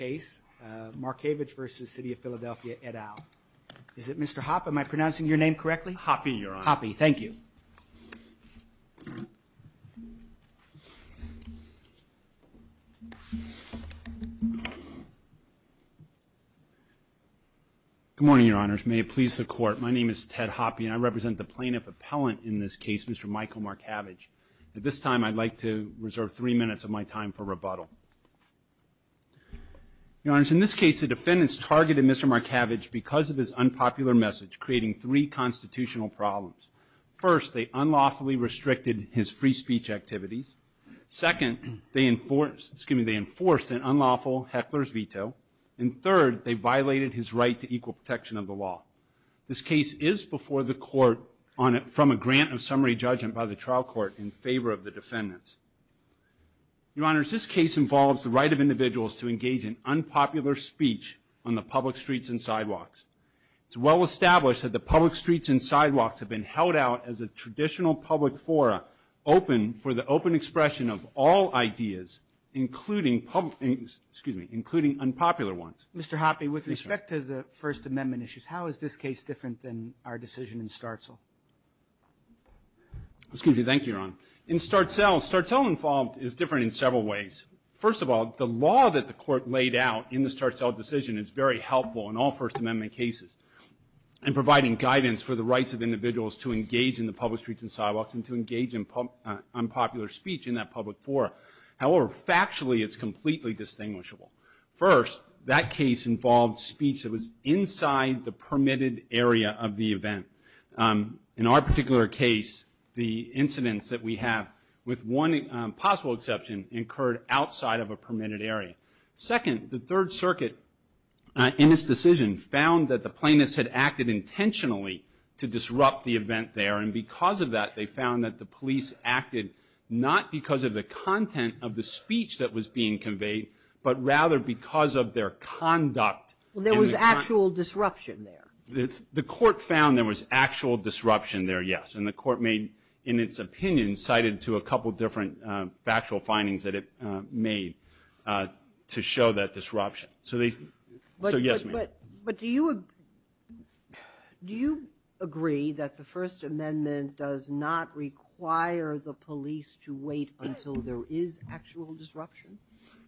MarcavagevCityofPhiladelphia, etal. Is it Mr. Hoppe? Am I pronouncing your name correctly? Hoppe, Your Honor. Hoppe. Thank you. Good morning, Your Honors. May it please the Court. My name is Ted Hoppe, and I represent the plaintiff appellant in this case, Mr. Michael Marcavage. At this time, I'd like to reserve three minutes of my time for rebuttal. Your Honors, in this case, the defendants targeted Mr. Marcavage because of his unpopular message, creating three constitutional problems. First, they unlawfully restricted his free speech activities. Second, they enforced an unlawful heckler's veto. And third, they violated his right to equal protection of the law. This case is before the Court from a grant of summary judgment by the trial court in favor of the defendants. Your Honors, this case involves the right of individuals to engage in unpopular speech on the public streets and sidewalks. It's well established that the public streets and sidewalks have been held out as a traditional public forum, open for the open expression of all ideas, including unpopular ones. Mr. Hoppe, with respect to the First Amendment issues, how is this case different than our decision in Startzel? Excuse me. Thank you, Your Honor. In Startzel, Startzel involved is different in several ways. First of all, the law that the Court laid out in the Startzel decision is very helpful in all First Amendment cases in providing guidance for the rights of individuals to engage in the public streets and sidewalks and to engage in unpopular speech in that public forum. However, factually, it's completely distinguishable. First, that case involved speech that was inside the permitted area of the event. In our particular case, the incidents that we have, with one possible exception, occurred outside of a permitted area. Second, the Third Circuit, in its decision, found that the plaintiffs had acted intentionally to disrupt the event there. And because of that, they found that the police acted not because of the content of the speech that was being conveyed, but rather because of their conduct. Well, there was actual disruption there. The Court found there was actual disruption there, yes. And the Court made, in its opinion, cited to a couple of different factual findings that it made to show that disruption. So yes, ma'am. But do you agree that the First Amendment does not require the police to wait until there is actual disruption?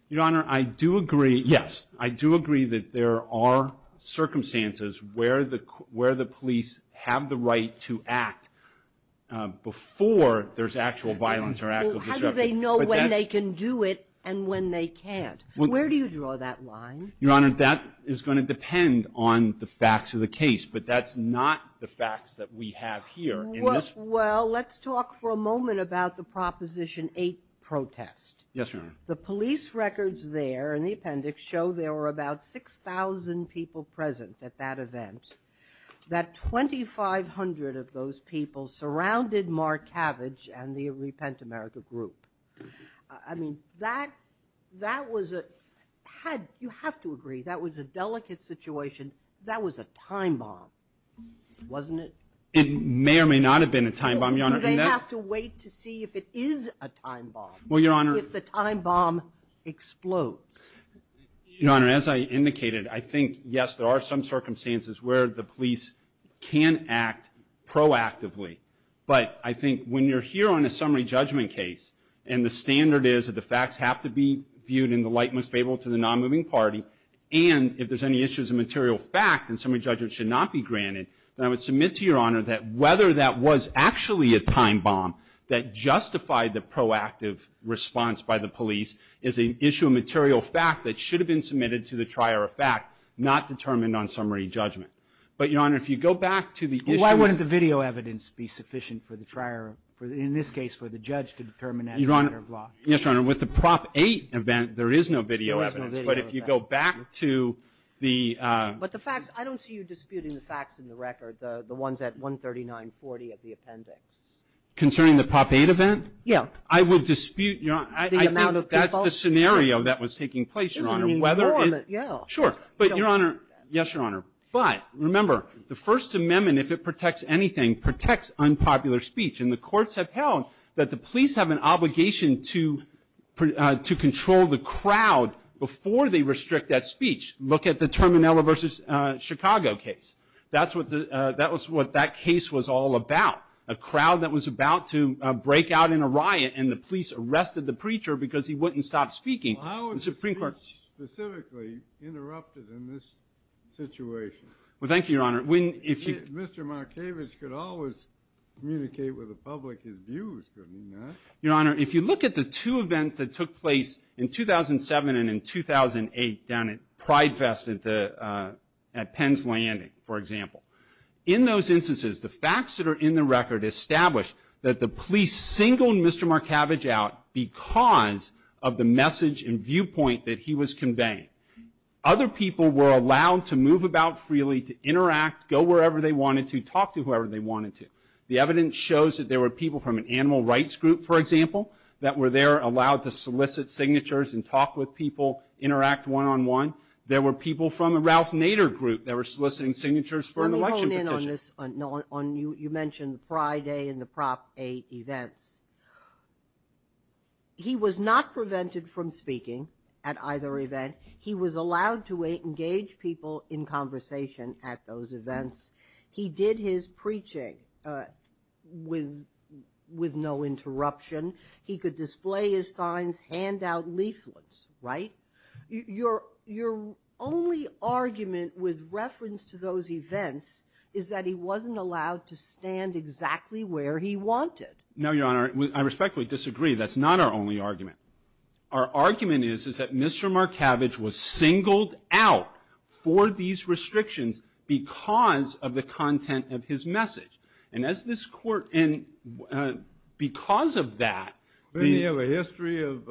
Your Honor, I do agree, yes. I do agree that there are circumstances where the police have the right to act before there's actual violence or act of disruption. Well, how do they know when they can do it and when they can't? Where do you draw that line? Your Honor, that is going to depend on the facts of the case. But that's not the facts that we have here. Well, let's talk for a moment about the Proposition 8 protest. Yes, Your Honor. The police records there in the appendix show there were about 6,000 people present at that event, that 2,500 of those people surrounded Mark Cavage and the Repent America group. I mean, that was a – you have to agree, that was a delicate situation. That was a time bomb, wasn't it? It may or may not have been a time bomb, Your Honor. Do they have to wait to see if it is a time bomb? Well, Your Honor. If the time bomb explodes. Your Honor, as I indicated, I think, yes, there are some circumstances where the police can act proactively. But I think when you're here on a summary judgment case and the standard is that the facts have to be viewed in the light most favorable to the nonmoving party and if there's any issues of material fact and summary judgment should not be granted, then I would submit to Your Honor that whether that was actually a time bomb that justified the proactive response by the police is an issue of material fact that should have been submitted to the trier of fact, not determined on summary judgment. But, Your Honor, if you go back to the issue of – Well, why wouldn't the video evidence be sufficient for the trier of – in this case, for the judge to determine as matter of law? Yes, Your Honor. With the Prop 8 event, there is no video evidence. There is no video evidence. But if you go back to the – But the facts – I don't see you disputing the facts in the record, the ones at 13940 of the appendix. Concerning the Prop 8 event? Yes. I would dispute – The amount of people? I think that's the scenario that was taking place, Your Honor. This is an informant, yes. Sure. But, Your Honor – yes, Your Honor. But, remember, the First Amendment, if it protects anything, protects unpopular speech. And the courts have held that the police have an obligation to control the crowd before they restrict that speech. Look at the Terminella v. Chicago case. That's what the – that was what that case was all about. A crowd that was about to break out in a riot, and the police arrested the preacher because he wouldn't stop speaking. Well, I was specifically interrupted in this situation. Well, thank you, Your Honor. When – if you – Mr. Markiewicz could always communicate with the public his views, couldn't he not? Your Honor, if you look at the two events that took place in 2007 and in 2008 down at Pride Fest at the – at Penn's Landing, for example, in those instances, the facts that are in the record establish that the police singled Mr. Markiewicz out because of the message and viewpoint that he was conveying. Other people were allowed to move about freely, to interact, go wherever they wanted to, talk to whoever they wanted to. The evidence shows that there were people from an animal rights group, for example, that were there allowed to solicit signatures and talk with people, interact one-on-one. There were people from a Ralph Nader group that were soliciting signatures for an election petition. Let me hone in on this, on – you mentioned the Pride Day and the Prop 8 events. He was not prevented from speaking at either event. He was allowed to engage people in conversation at those events. He did his preaching with no interruption. He could display his signs, hand out leaflets, right? Your only argument with reference to those events is that he wasn't allowed to stand exactly where he wanted. No, Your Honor, I respectfully disagree. That's not our only argument. Our argument is, is that Mr. Markavich was singled out for these restrictions because of the content of his message. And as this court – and because of that – Do we have a history of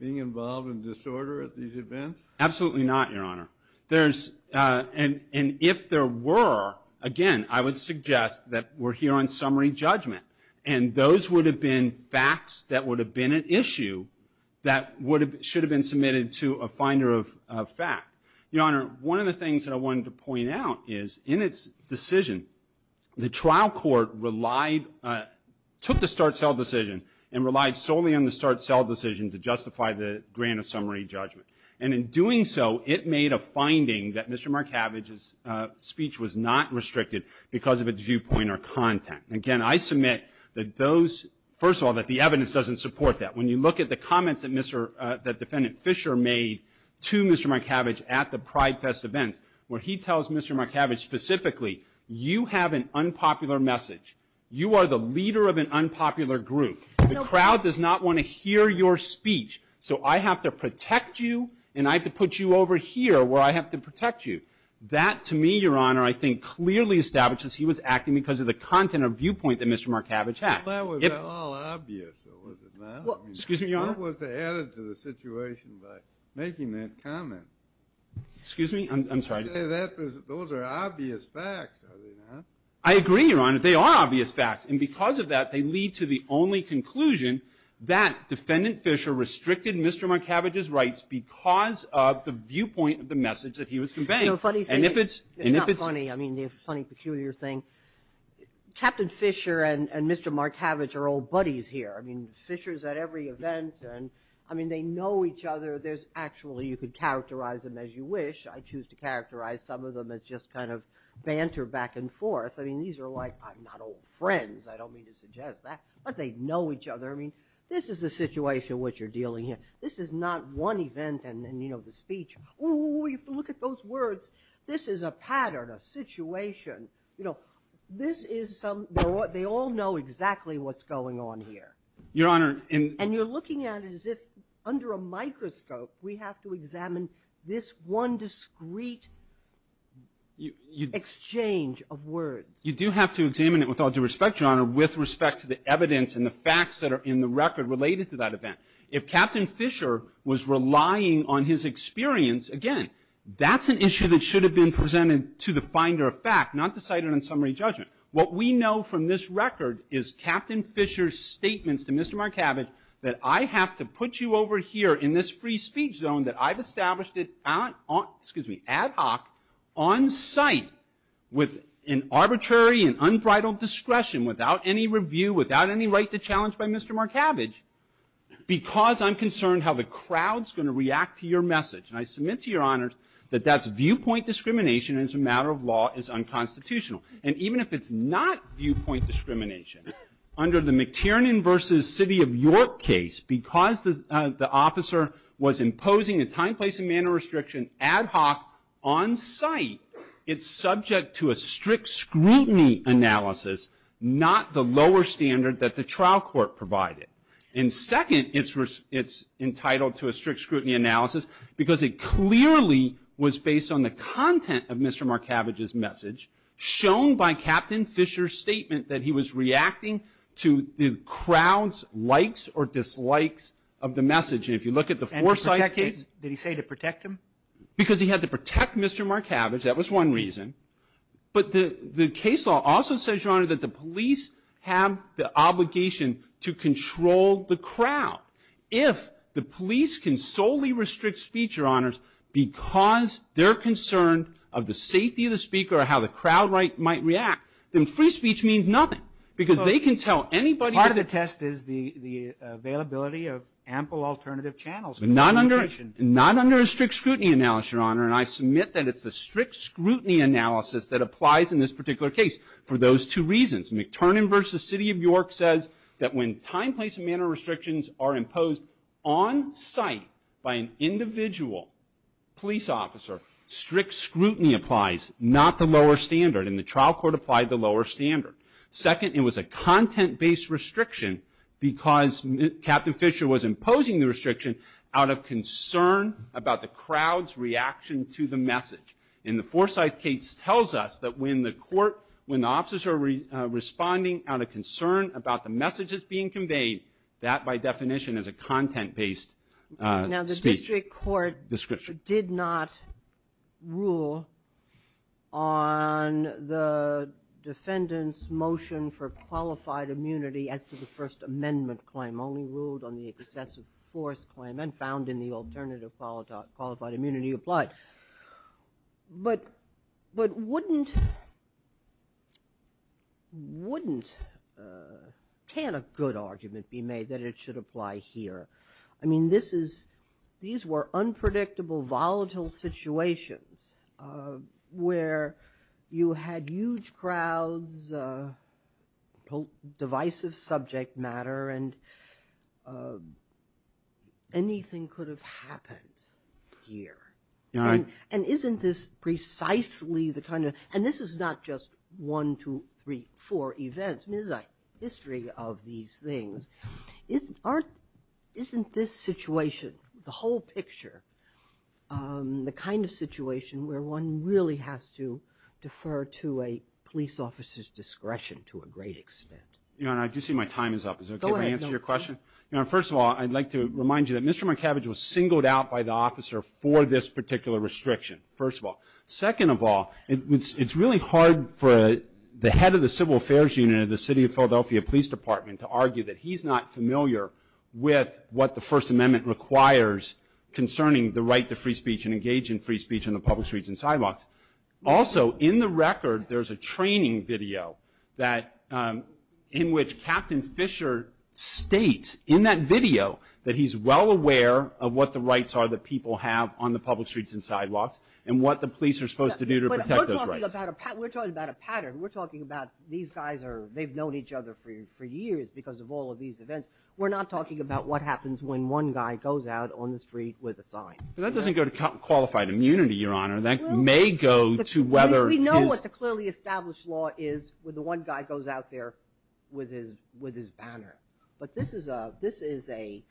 being involved in disorder at these events? Absolutely not, Your Honor. There's – and if there were, again, I would suggest that we're here on summary judgment. And those would have been facts that would have been an issue that should have been submitted to a finder of fact. Your Honor, one of the things that I wanted to point out is, in its decision, the trial court relied – took the start-sell decision and relied solely on the start-sell decision to justify the grant of summary judgment. And in doing so, it made a finding that Mr. Markavich's speech was not restricted because of its viewpoint or content. Again, I submit that those – first of all, that the evidence doesn't support that. When you look at the comments that Mr. – that Defendant Fisher made to Mr. Markavich at the Pride Fest events, where he tells Mr. Markavich specifically, you have an unpopular message. You are the leader of an unpopular group. The crowd does not want to hear your speech, so I have to protect you, and I have to put you over here where I have to protect you. That, to me, Your Honor, I think clearly establishes he was acting because of the content or viewpoint that Mr. Markavich had. That was all obvious, though, was it not? Excuse me, Your Honor? What was added to the situation by making that comment? Excuse me? I'm sorry. Those are obvious facts, are they not? I agree, Your Honor. They are obvious facts, and because of that, they lead to the only conclusion that Defendant Fisher restricted Mr. Markavich's rights because of the viewpoint of the message that he was conveying. It's not funny. I mean, the funny, peculiar thing, Captain Fisher and Mr. Markavich are old buddies here. I mean, Fisher's at every event, and, I mean, they know each other. There's actually, you could characterize them as you wish. I choose to characterize some of them as just kind of banter back and forth. I mean, these are like, I'm not old friends. I don't mean to suggest that, but they know each other. I mean, this is the situation in which you're dealing here. This is not one event, and, you know, the speech, oh, look at those words, this is a pattern, a situation. You know, this is some, they all know exactly what's going on here. Your Honor. And you're looking at it as if, under a microscope, we have to examine this one discreet exchange of words. You do have to examine it with all due respect, Your Honor, with respect to the evidence and the facts that are in the record related to that event. If Captain Fisher was relying on his experience, again, that's an issue that should have been presented to the finder of fact, not decided on summary judgment. What we know from this record is Captain Fisher's statements to Mr. Markavich that I have to put you over here in this free speech zone that I've established it ad hoc, on site, with an arbitrary and unbridled discretion, without any review, without any right to challenge by Mr. Markavich, because I'm concerned how the crowd's going to react to your message. And I submit to Your Honor that that's viewpoint discrimination as a matter of law is unconstitutional. And even if it's not viewpoint discrimination, under the McTiernan v. City of York case, because the officer was imposing a time, place, and manner restriction ad hoc on site, it's subject to a strict scrutiny analysis, not the lower standard that the trial court provided. And second, it's entitled to a strict scrutiny analysis, because it clearly was based on the content of Mr. Markavich's message, shown by Captain Fisher's statement that he was reacting to the crowd's likes or dislikes of the message. And if you look at the foresight case. Did he say to protect him? Because he had to protect Mr. Markavich. That was one reason. But the case law also says, Your Honor, that the police have the obligation to control the crowd. If the police can solely restrict speech, Your Honors, because they're concerned of the safety of the speaker or how the crowd might react, then free speech means nothing, because they can tell anybody. Part of the test is the availability of ample alternative channels. Not under a strict scrutiny analysis, Your Honor, and I submit that it's the strict scrutiny analysis that applies in this particular case for those two reasons. McTernan v. City of York says that when time, place, and manner restrictions are imposed on site by an individual police officer, strict scrutiny applies, not the lower standard. And the trial court applied the lower standard. Second, it was a content-based restriction, because Captain Fisher was imposing the restriction out of concern about the crowd's reaction to the message. And the Forsyth case tells us that when the court, when the officers are responding out of concern about the message that's being conveyed, that, by definition, is a content-based speech. Now, the district court did not rule on the defendant's motion for qualified immunity as to the First Amendment claim, only ruled on the excessive force claim and found in the alternative qualified immunity applied. But wouldn't, wouldn't, can't a good argument be made that it should apply here. I mean, this is, these were unpredictable, volatile situations where you had huge crowds, divisive subject matter, and anything could have happened here. And isn't this precisely the kind of, and this is not just one, two, three, four events, this is a history of these things. Isn't this situation, the whole picture, the kind of situation where one really has to defer to a police officer's discretion to a great extent? Your Honor, I do see my time is up. Is it okay if I answer your question? Go ahead. Your Honor, first of all, I'd like to remind you that Mr. McCabbage was singled out by the officer for this particular restriction, first of all. Second of all, it's really hard for the head of the Civil Affairs Unit of the City of Philadelphia Police Department to argue that he's not familiar with what the First Amendment requires concerning the right to free speech and engage in Also, in the record, there's a training video that, in which Captain Fisher states in that video that he's well aware of what the rights are that people have on the public streets and sidewalks and what the police are supposed to do to protect those rights. We're talking about a pattern. We're talking about these guys are, they've known each other for years because of all of these events. We're not talking about what happens when one guy goes out on the street with a sign. But that doesn't go to qualified immunity, Your Honor. That may go to whether his... We know what the clearly established law is when the one guy goes out there with his banner. But this is a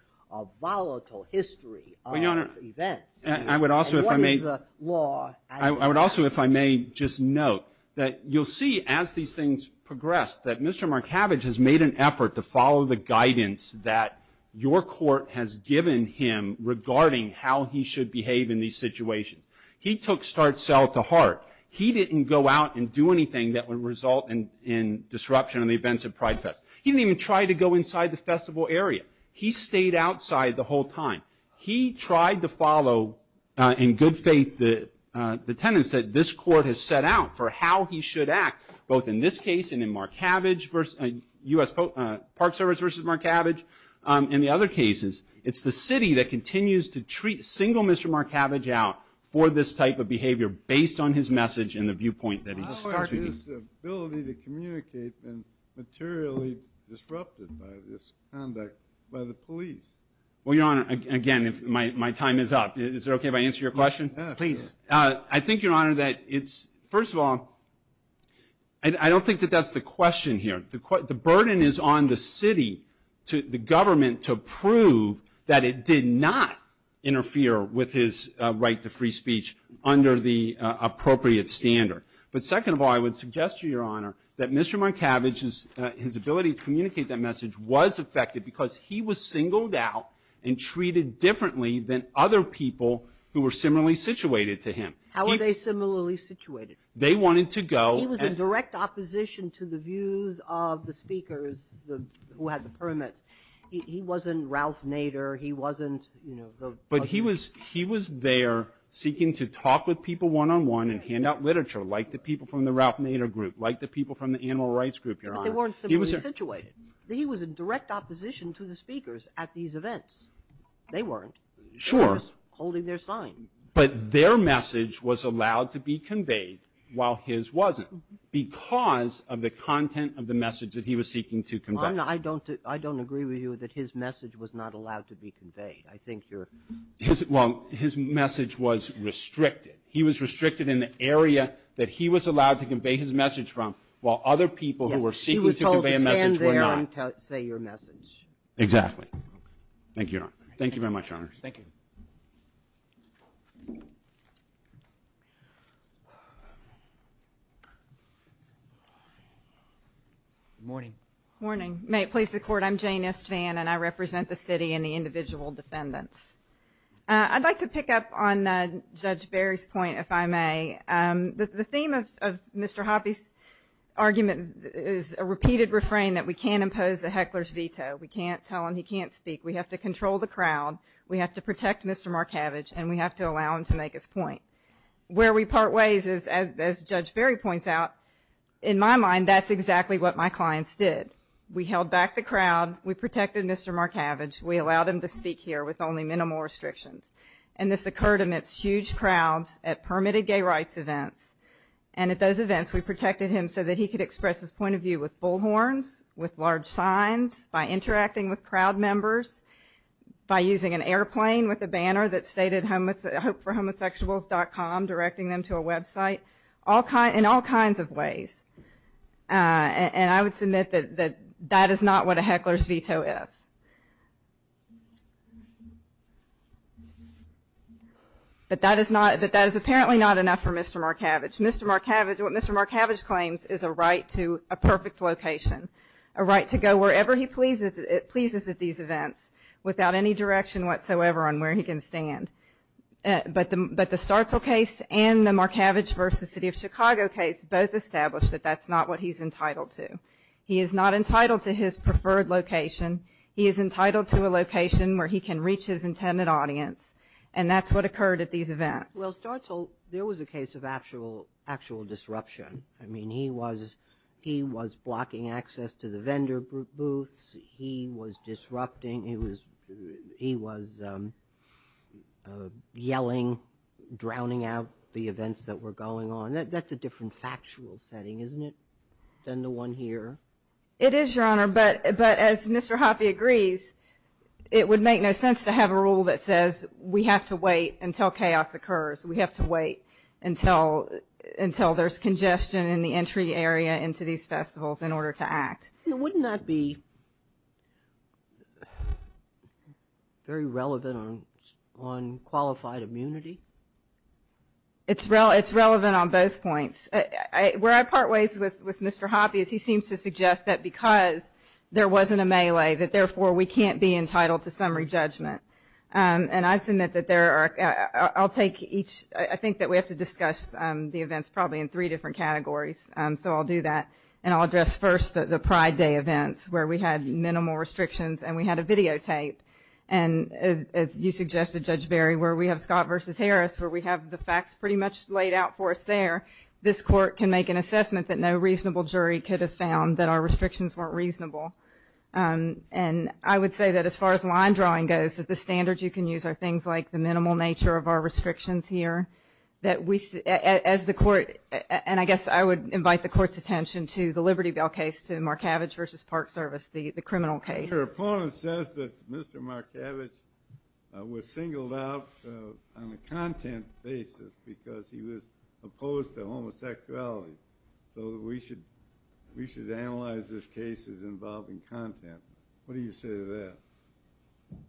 volatile history of events. I would also, if I may... And what is the law... I would also, if I may, just note that you'll see as these things progress that Mr. McCabbage has made an effort to follow the guidance that your court has given him regarding how he should behave in these situations. He took start-sell to heart. He didn't go out and do anything that would result in disruption in the events of Pride Fest. He didn't even try to go inside the festival area. He stayed outside the whole time. He tried to follow, in good faith, the tenets that this court has set out for how he should act, both in this case and in Park Service v. McCabbage and the other cases. It's the city that continues to treat single Mr. McCabbage out for this type of behavior based on his message and the viewpoint that he... How about his ability to communicate and materially disrupted by this conduct by the police? Well, Your Honor, again, my time is up. Is it okay if I answer your question? Please. I think, Your Honor, that it's... First of all, I don't think that that's the question here. The burden is on the city, the government, to prove that it did not interfere with his right to free speech under the appropriate standard. But second of all, I would suggest to you, Your Honor, that Mr. McCabbage's ability to communicate that message was affected because he was singled out and treated differently than other people who were similarly situated to him. How were they similarly situated? They wanted to go... Of the speakers who had the permits. He wasn't Ralph Nader. He wasn't, you know... But he was there seeking to talk with people one-on-one and hand out literature like the people from the Ralph Nader group, like the people from the animal rights group, Your Honor. But they weren't similarly situated. He was in direct opposition to the speakers at these events. They weren't. Sure. They were just holding their sign. But their message was allowed to be conveyed while his wasn't because of the message that he was seeking to convey. Your Honor, I don't agree with you that his message was not allowed to be conveyed. I think you're... Well, his message was restricted. He was restricted in the area that he was allowed to convey his message from while other people who were seeking to convey a message were not. He was told to stand there and say your message. Exactly. Thank you, Your Honor. Thank you very much, Your Honor. Thank you. Good morning. Good morning. May it please the Court, I'm Jane Estvan, and I represent the city and the individual defendants. I'd like to pick up on Judge Barry's point, if I may. The theme of Mr. Hoppe's argument is a repeated refrain that we can't impose a heckler's veto. We can't tell him he can't speak. We have to control the crowd. We have to protect the public. We have to protect Mr. Markavage, and we have to allow him to make his point. Where we part ways is, as Judge Barry points out, in my mind, that's exactly what my clients did. We held back the crowd. We protected Mr. Markavage. We allowed him to speak here with only minimal restrictions. And this occurred amidst huge crowds at permitted gay rights events. And at those events, we protected him so that he could express his point of view with bullhorns, with large signs, by interacting with crowd members, by using an airplane with a banner that stated hopeforhomosexuals.com, directing them to a website, in all kinds of ways. And I would submit that that is not what a heckler's veto is. But that is apparently not enough for Mr. Markavage. What Mr. Markavage claims is a right to a perfect location, a right to go wherever he pleases at these events, without any direction whatsoever on where he can stand. But the Starzl case and the Markavage v. City of Chicago case both established that that's not what he's entitled to. He is not entitled to his preferred location. He is entitled to a location where he can reach his intended audience. And that's what occurred at these events. Well, Starzl, there was a case of actual disruption. I mean, he was blocking access to the vendor booths. He was disrupting. He was yelling, drowning out the events that were going on. That's a different factual setting, isn't it, than the one here? It is, Your Honor. But as Mr. Hoppe agrees, it would make no sense to have a rule that says we have to wait until chaos occurs. We have to wait until there's congestion in the entry area into these festivals in order to act. Wouldn't that be very relevant on qualified immunity? It's relevant on both points. Where I part ways with Mr. Hoppe is he seems to suggest that because there wasn't a melee, that therefore we can't be entitled to summary judgment. And I submit that there are – I'll take each – I think that we have to discuss the events probably in three different categories. So I'll do that. And I'll address first the Pride Day events where we had minimal restrictions and we had a videotape. And as you suggested, Judge Berry, where we have Scott versus Harris, where we have the facts pretty much laid out for us there, this Court can make an assessment that no reasonable jury could have found that our restrictions weren't reasonable. And I would say that as far as line drawing goes, that the standards you can use are things like the minimal nature of our restrictions here. That we – as the Court – and I guess I would invite the Court's attention to the Liberty Bell case, to Markavich versus Park Service, the criminal case. Her opponent says that Mr. Markavich was singled out on a content basis because he was opposed to homosexuality. So we should analyze this case as involving content. What do you say to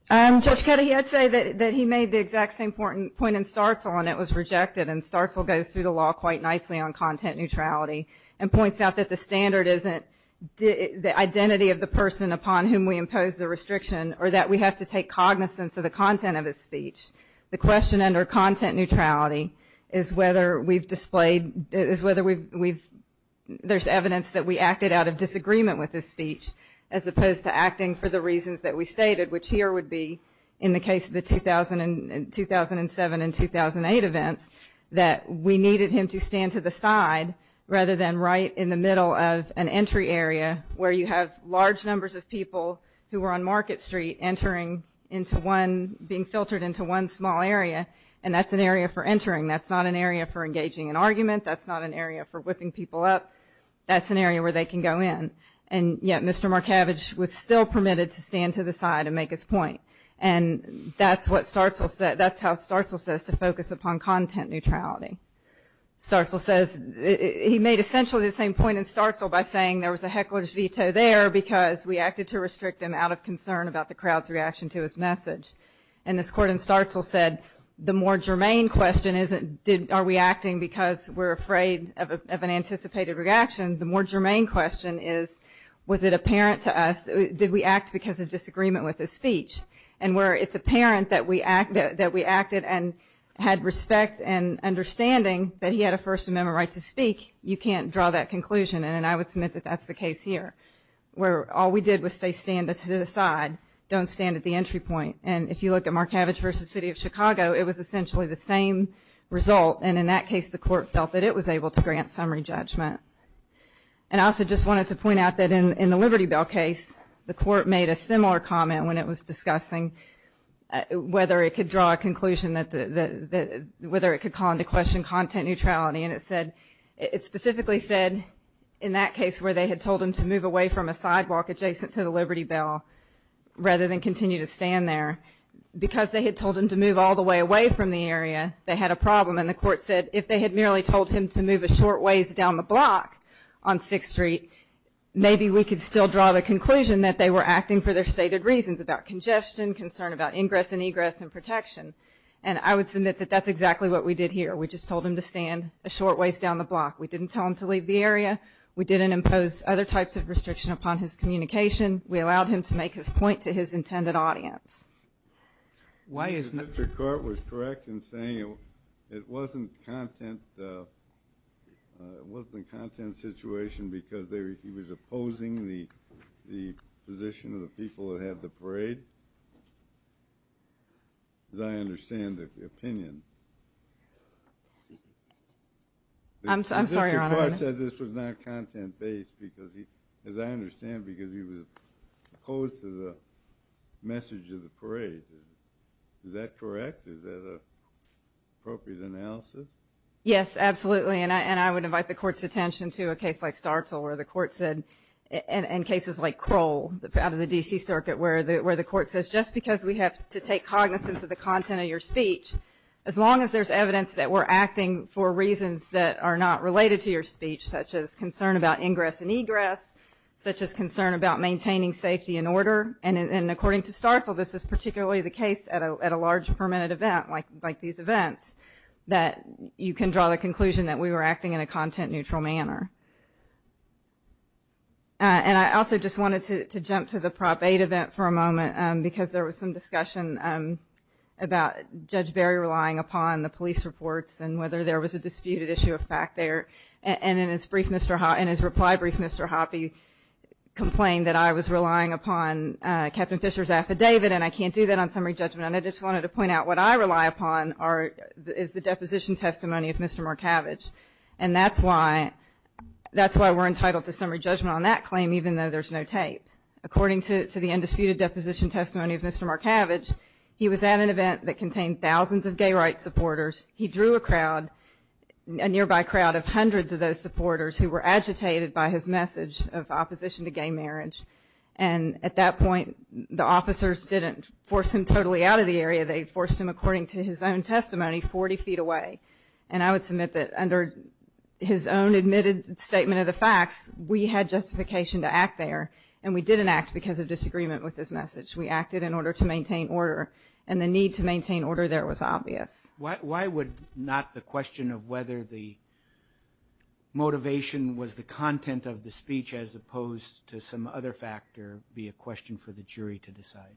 that? Judge Cuddy, I'd say that he made the exact same point in Starzl and it was rejected. And Starzl goes through the law quite nicely on content neutrality and points out that the standard isn't the identity of the person upon whom we impose the restriction or that we have to take cognizance of the content of his speech. The question under content neutrality is whether we've displayed – is whether we've – there's evidence that we acted out of disagreement with his speech as opposed to acting for the reasons that we stated, which here would be in the case of the 2007 and 2008 events, that we needed him to stand to the side rather than right in the middle of an entry area where you have large numbers of people who are on Market Street entering into one – being filtered into one small area, and that's an area for entering. That's not an area for engaging in argument. That's not an area for whipping people up. That's an area where they can go in. And yet Mr. Markavich was still permitted to stand to the side and make his point. And that's what Starzl – that's how Starzl says to focus upon content neutrality. Starzl says – he made essentially the same point in Starzl by saying there was a heckler's veto there because we acted to restrict him out of concern about the crowd's reaction to his message. And this court in Starzl said the more germane question isn't are we acting because we're afraid of an anticipated reaction. The more germane question is was it apparent to us – did we act because of disagreement with his speech? And where it's apparent that we acted and had respect and understanding that he had a First Amendment right to speak, you can't draw that conclusion, and I would submit that that's the case here where all we did was say stand to the side, don't stand at the entry point. And if you look at Markavich v. City of Chicago, it was essentially the same result, and in that case the court felt that it was able to grant summary judgment. And I also just wanted to point out that in the Liberty Bell case, the court made a similar comment when it was discussing whether it could draw a conclusion that the – whether it could call into question content neutrality. And it said – it specifically said in that case where they had told him to move away from a sidewalk adjacent to the Liberty Bell rather than continue to stand there, because they had told him to move all the way away from the area, they had a problem. And the court said if they had merely told him to move a short ways down the block on 6th Street, maybe we could still draw the conclusion that they were acting for their stated reasons about congestion, concern about ingress and egress, and protection. And I would submit that that's exactly what we did here. We just told him to stand a short ways down the block. We didn't tell him to leave the area. We didn't impose other types of restriction upon his communication. We allowed him to make his point to his intended audience. Mr. Carte was correct in saying it wasn't content – it wasn't a content situation because he was opposing the position of the people that had the parade, as I understand the opinion. I'm sorry, Your Honor. Mr. Carte said this was not content-based because he – as I understand, because he was opposed to the message of the parade. Is that correct? Is that an appropriate analysis? Yes, absolutely. And I would invite the court's attention to a case like Startle where the court said – and cases like Kroll out of the D.C. Circuit where the court says, just because we have to take cognizance of the content of your speech, as long as there's evidence that we're acting for reasons that are not related to your speech, such as concern about ingress and egress, such as concern about maintaining safety and order. And according to Startle, this is particularly the case at a large permitted event like these events, that you can draw the conclusion that we were acting in a content-neutral manner. And I also just wanted to jump to the Prop 8 event for a moment because there was some discussion about Judge Berry relying upon the police reports and whether there was a disputed issue of fact there. And in his reply brief, Mr. Hoppe complained that I was relying upon Captain Fisher's affidavit and I can't do that on summary judgment. And I just wanted to point out what I rely upon is the deposition testimony of Mr. Markavich. And that's why we're entitled to summary judgment on that claim even though there's no tape. According to the undisputed deposition testimony of Mr. Markavich, he was at an event that contained thousands of gay rights supporters. He drew a crowd, a nearby crowd of hundreds of those supporters who were agitated by his message of opposition to gay marriage. And at that point, the officers didn't force him totally out of the area. They forced him, according to his own testimony, 40 feet away. And I would submit that under his own admitted statement of the facts, we had justification to act there, and we didn't act because of disagreement with his message. We acted in order to maintain order, and the need to maintain order there was obvious. Why would not the question of whether the motivation was the content of the speech as opposed to some other factor be a question for the jury to decide?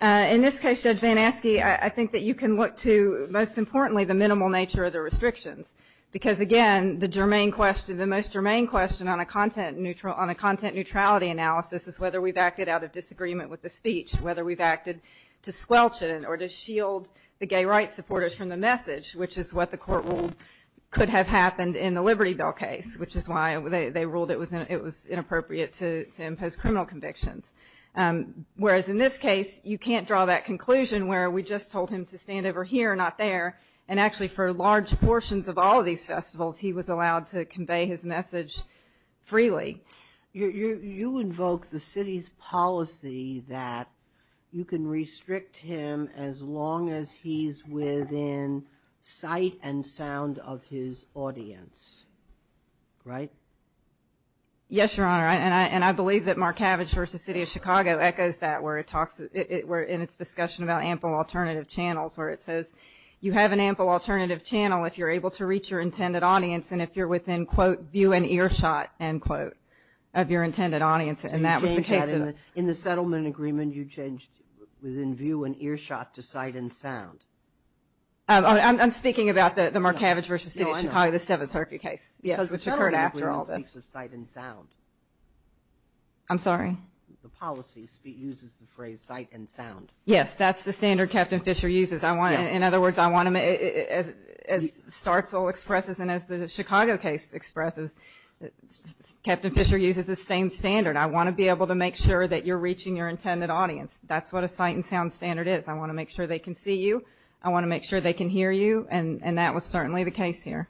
In this case, Judge Van Aske, I think that you can look to, most importantly, the minimal nature of the restrictions because, again, the most germane question on a content neutrality analysis is whether we've acted out of disagreement with the speech, whether we've acted to squelch it or to shield the gay rights supporters from the message, which is what the court ruled could have happened in the Liberty Bell case, which is why they ruled it was inappropriate to impose criminal convictions. Whereas in this case, you can't draw that conclusion where we just told him to stand over here, not there, and actually for large portions of all of these festivals, he was allowed to convey his message freely. You invoke the city's policy that you can restrict him as long as he's within sight and sound of his audience, right? Yes, Your Honor, and I believe that Mark Havish v. City of Chicago echoes that where it talks in its discussion about ample alternative channels where it says, you have an ample alternative channel if you're able to reach your intended audience and if you're within, quote, view and earshot, end quote, of your intended audience, and that was the case. In the settlement agreement, you changed within view and earshot to sight and sound. I'm speaking about the Mark Havish v. City of Chicago, the 7th Circuit case. Because the settlement agreement speaks of sight and sound. I'm sorry? The policy uses the phrase sight and sound. Yes, that's the standard Captain Fisher uses. In other words, I want him, as Starzl expresses and as the Chicago case expresses, Captain Fisher uses the same standard. I want to be able to make sure that you're reaching your intended audience. That's what a sight and sound standard is. I want to make sure they can see you. I want to make sure they can hear you, and that was certainly the case here.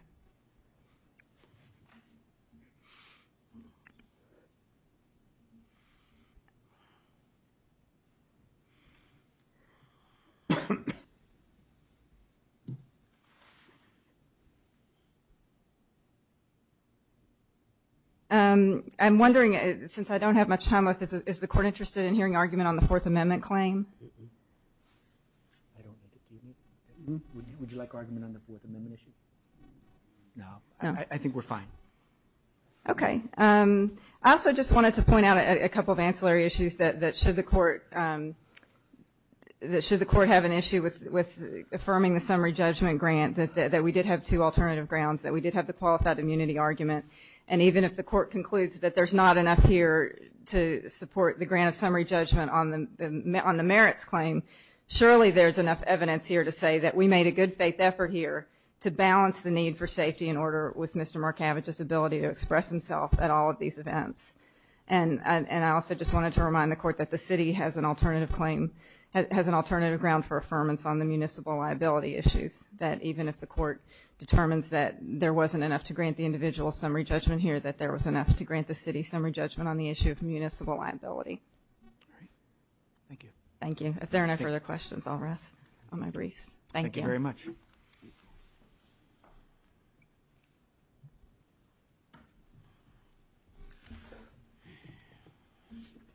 I'm wondering, since I don't have much time left, is the court interested in hearing argument on the Fourth Amendment claim? I don't think it is. Would you like argument on the Fourth Amendment issue? No. No. I think we're fine. Okay. I also just wanted to point out a couple of ancillary issues that should the court have an issue with the court. Affirming the summary judgment grant, that we did have two alternative grounds, that we did have the qualified immunity argument, and even if the court concludes that there's not enough here to support the grant of summary judgment on the merits claim, surely there's enough evidence here to say that we made a good faith effort here to balance the need for safety in order with Mr. Markavich's ability to express himself at all of these events. And I also just wanted to remind the court that the city has an alternative claim, has an alternative ground for affirmance on the municipal liability issues, that even if the court determines that there wasn't enough to grant the individual summary judgment here, that there was enough to grant the city summary judgment on the issue of municipal liability. All right. Thank you. Thank you. If there are no further questions, I'll rest on my briefs. Thank you. Thank you very much.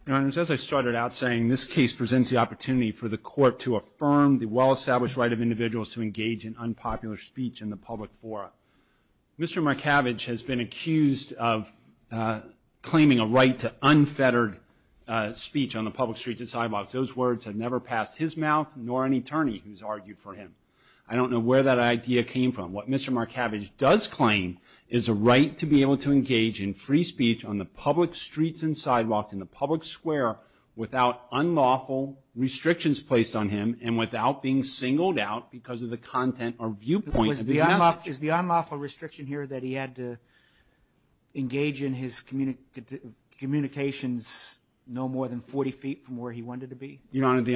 Your Honor, as I started out saying, this case presents the opportunity for the court to affirm the well-established right of individuals to engage in unpopular speech in the public fora. Mr. Markavich has been accused of claiming a right to unfettered speech on the public streets at sidewalks. Those words have never passed his mouth, nor an attorney who's argued for him. I don't know where that idea came from. What Mr. Markavich does claim is a right to be able to engage in free speech on the public streets and sidewalks in the public square without unlawful restrictions placed on him and without being singled out because of the content or viewpoint of the message. Is the unlawful restriction here that he had to engage in his communications no more than 40 feet from where he wanted to be? Your Honor, the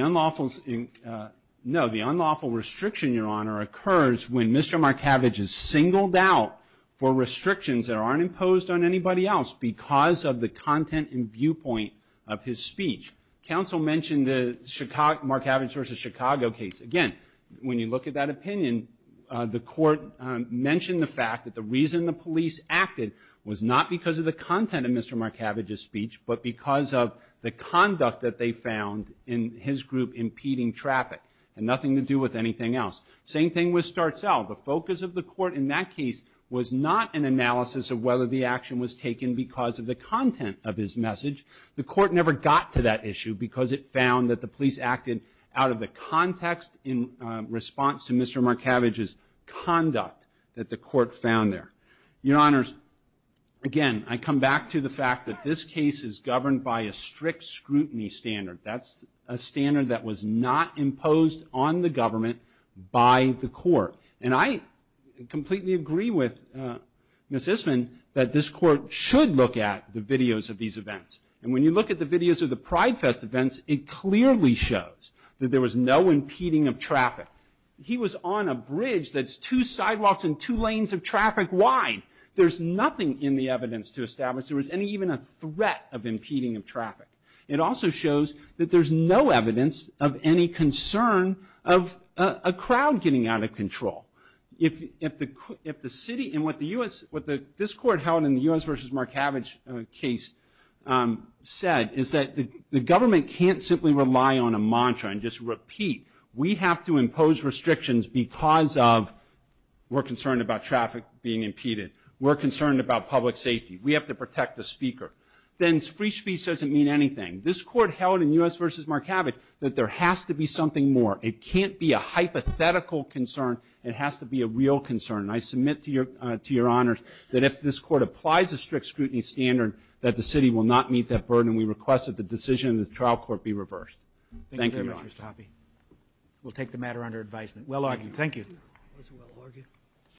unlawful restriction, Your Honor, occurs when Mr. Markavich is singled out for restrictions that aren't imposed on anybody else because of the content and viewpoint of his speech. Counsel mentioned the Markavich v. Chicago case. Again, when you look at that opinion, the court mentioned the fact that the reason the police acted was not because of the content of Mr. Markavich's speech, but because of the conduct that they found in his group impeding traffic and nothing to do with anything else. Same thing with Startsell. The focus of the court in that case was not an analysis of whether the action was taken because of the content of his message. The court never got to that issue because it found that the police acted out of the context in response to Mr. Markavich's conduct that the court found there. Your Honors, again, I come back to the fact that this case is governed by a strict scrutiny standard. That's a standard that was not imposed on the government by the court. And I completely agree with Ms. Isman that this court should look at the videos of these events. And when you look at the videos of the Pride Fest events, it clearly shows that there was no impeding of traffic. He was on a bridge that's two sidewalks and two lanes of traffic wide. There's nothing in the evidence to establish there was even a threat of impeding of traffic. It also shows that there's no evidence of any concern of a crowd getting out of control. And what this court held in the U.S. v. Markavich case said is that the government can't simply rely on a mantra and just repeat, we have to impose restrictions because we're concerned about traffic being impeded. We're concerned about public safety. We have to protect the speaker. Then free speech doesn't mean anything. This court held in U.S. v. Markavich that there has to be something more. It can't be a hypothetical concern. It has to be a real concern. And I submit to your honors that if this court applies a strict scrutiny standard that the city will not meet that burden. And we request that the decision of the trial court be reversed. Thank you, your honors. Roberts. Roberts. We'll take the matter under advisement. Well argued. Thank you.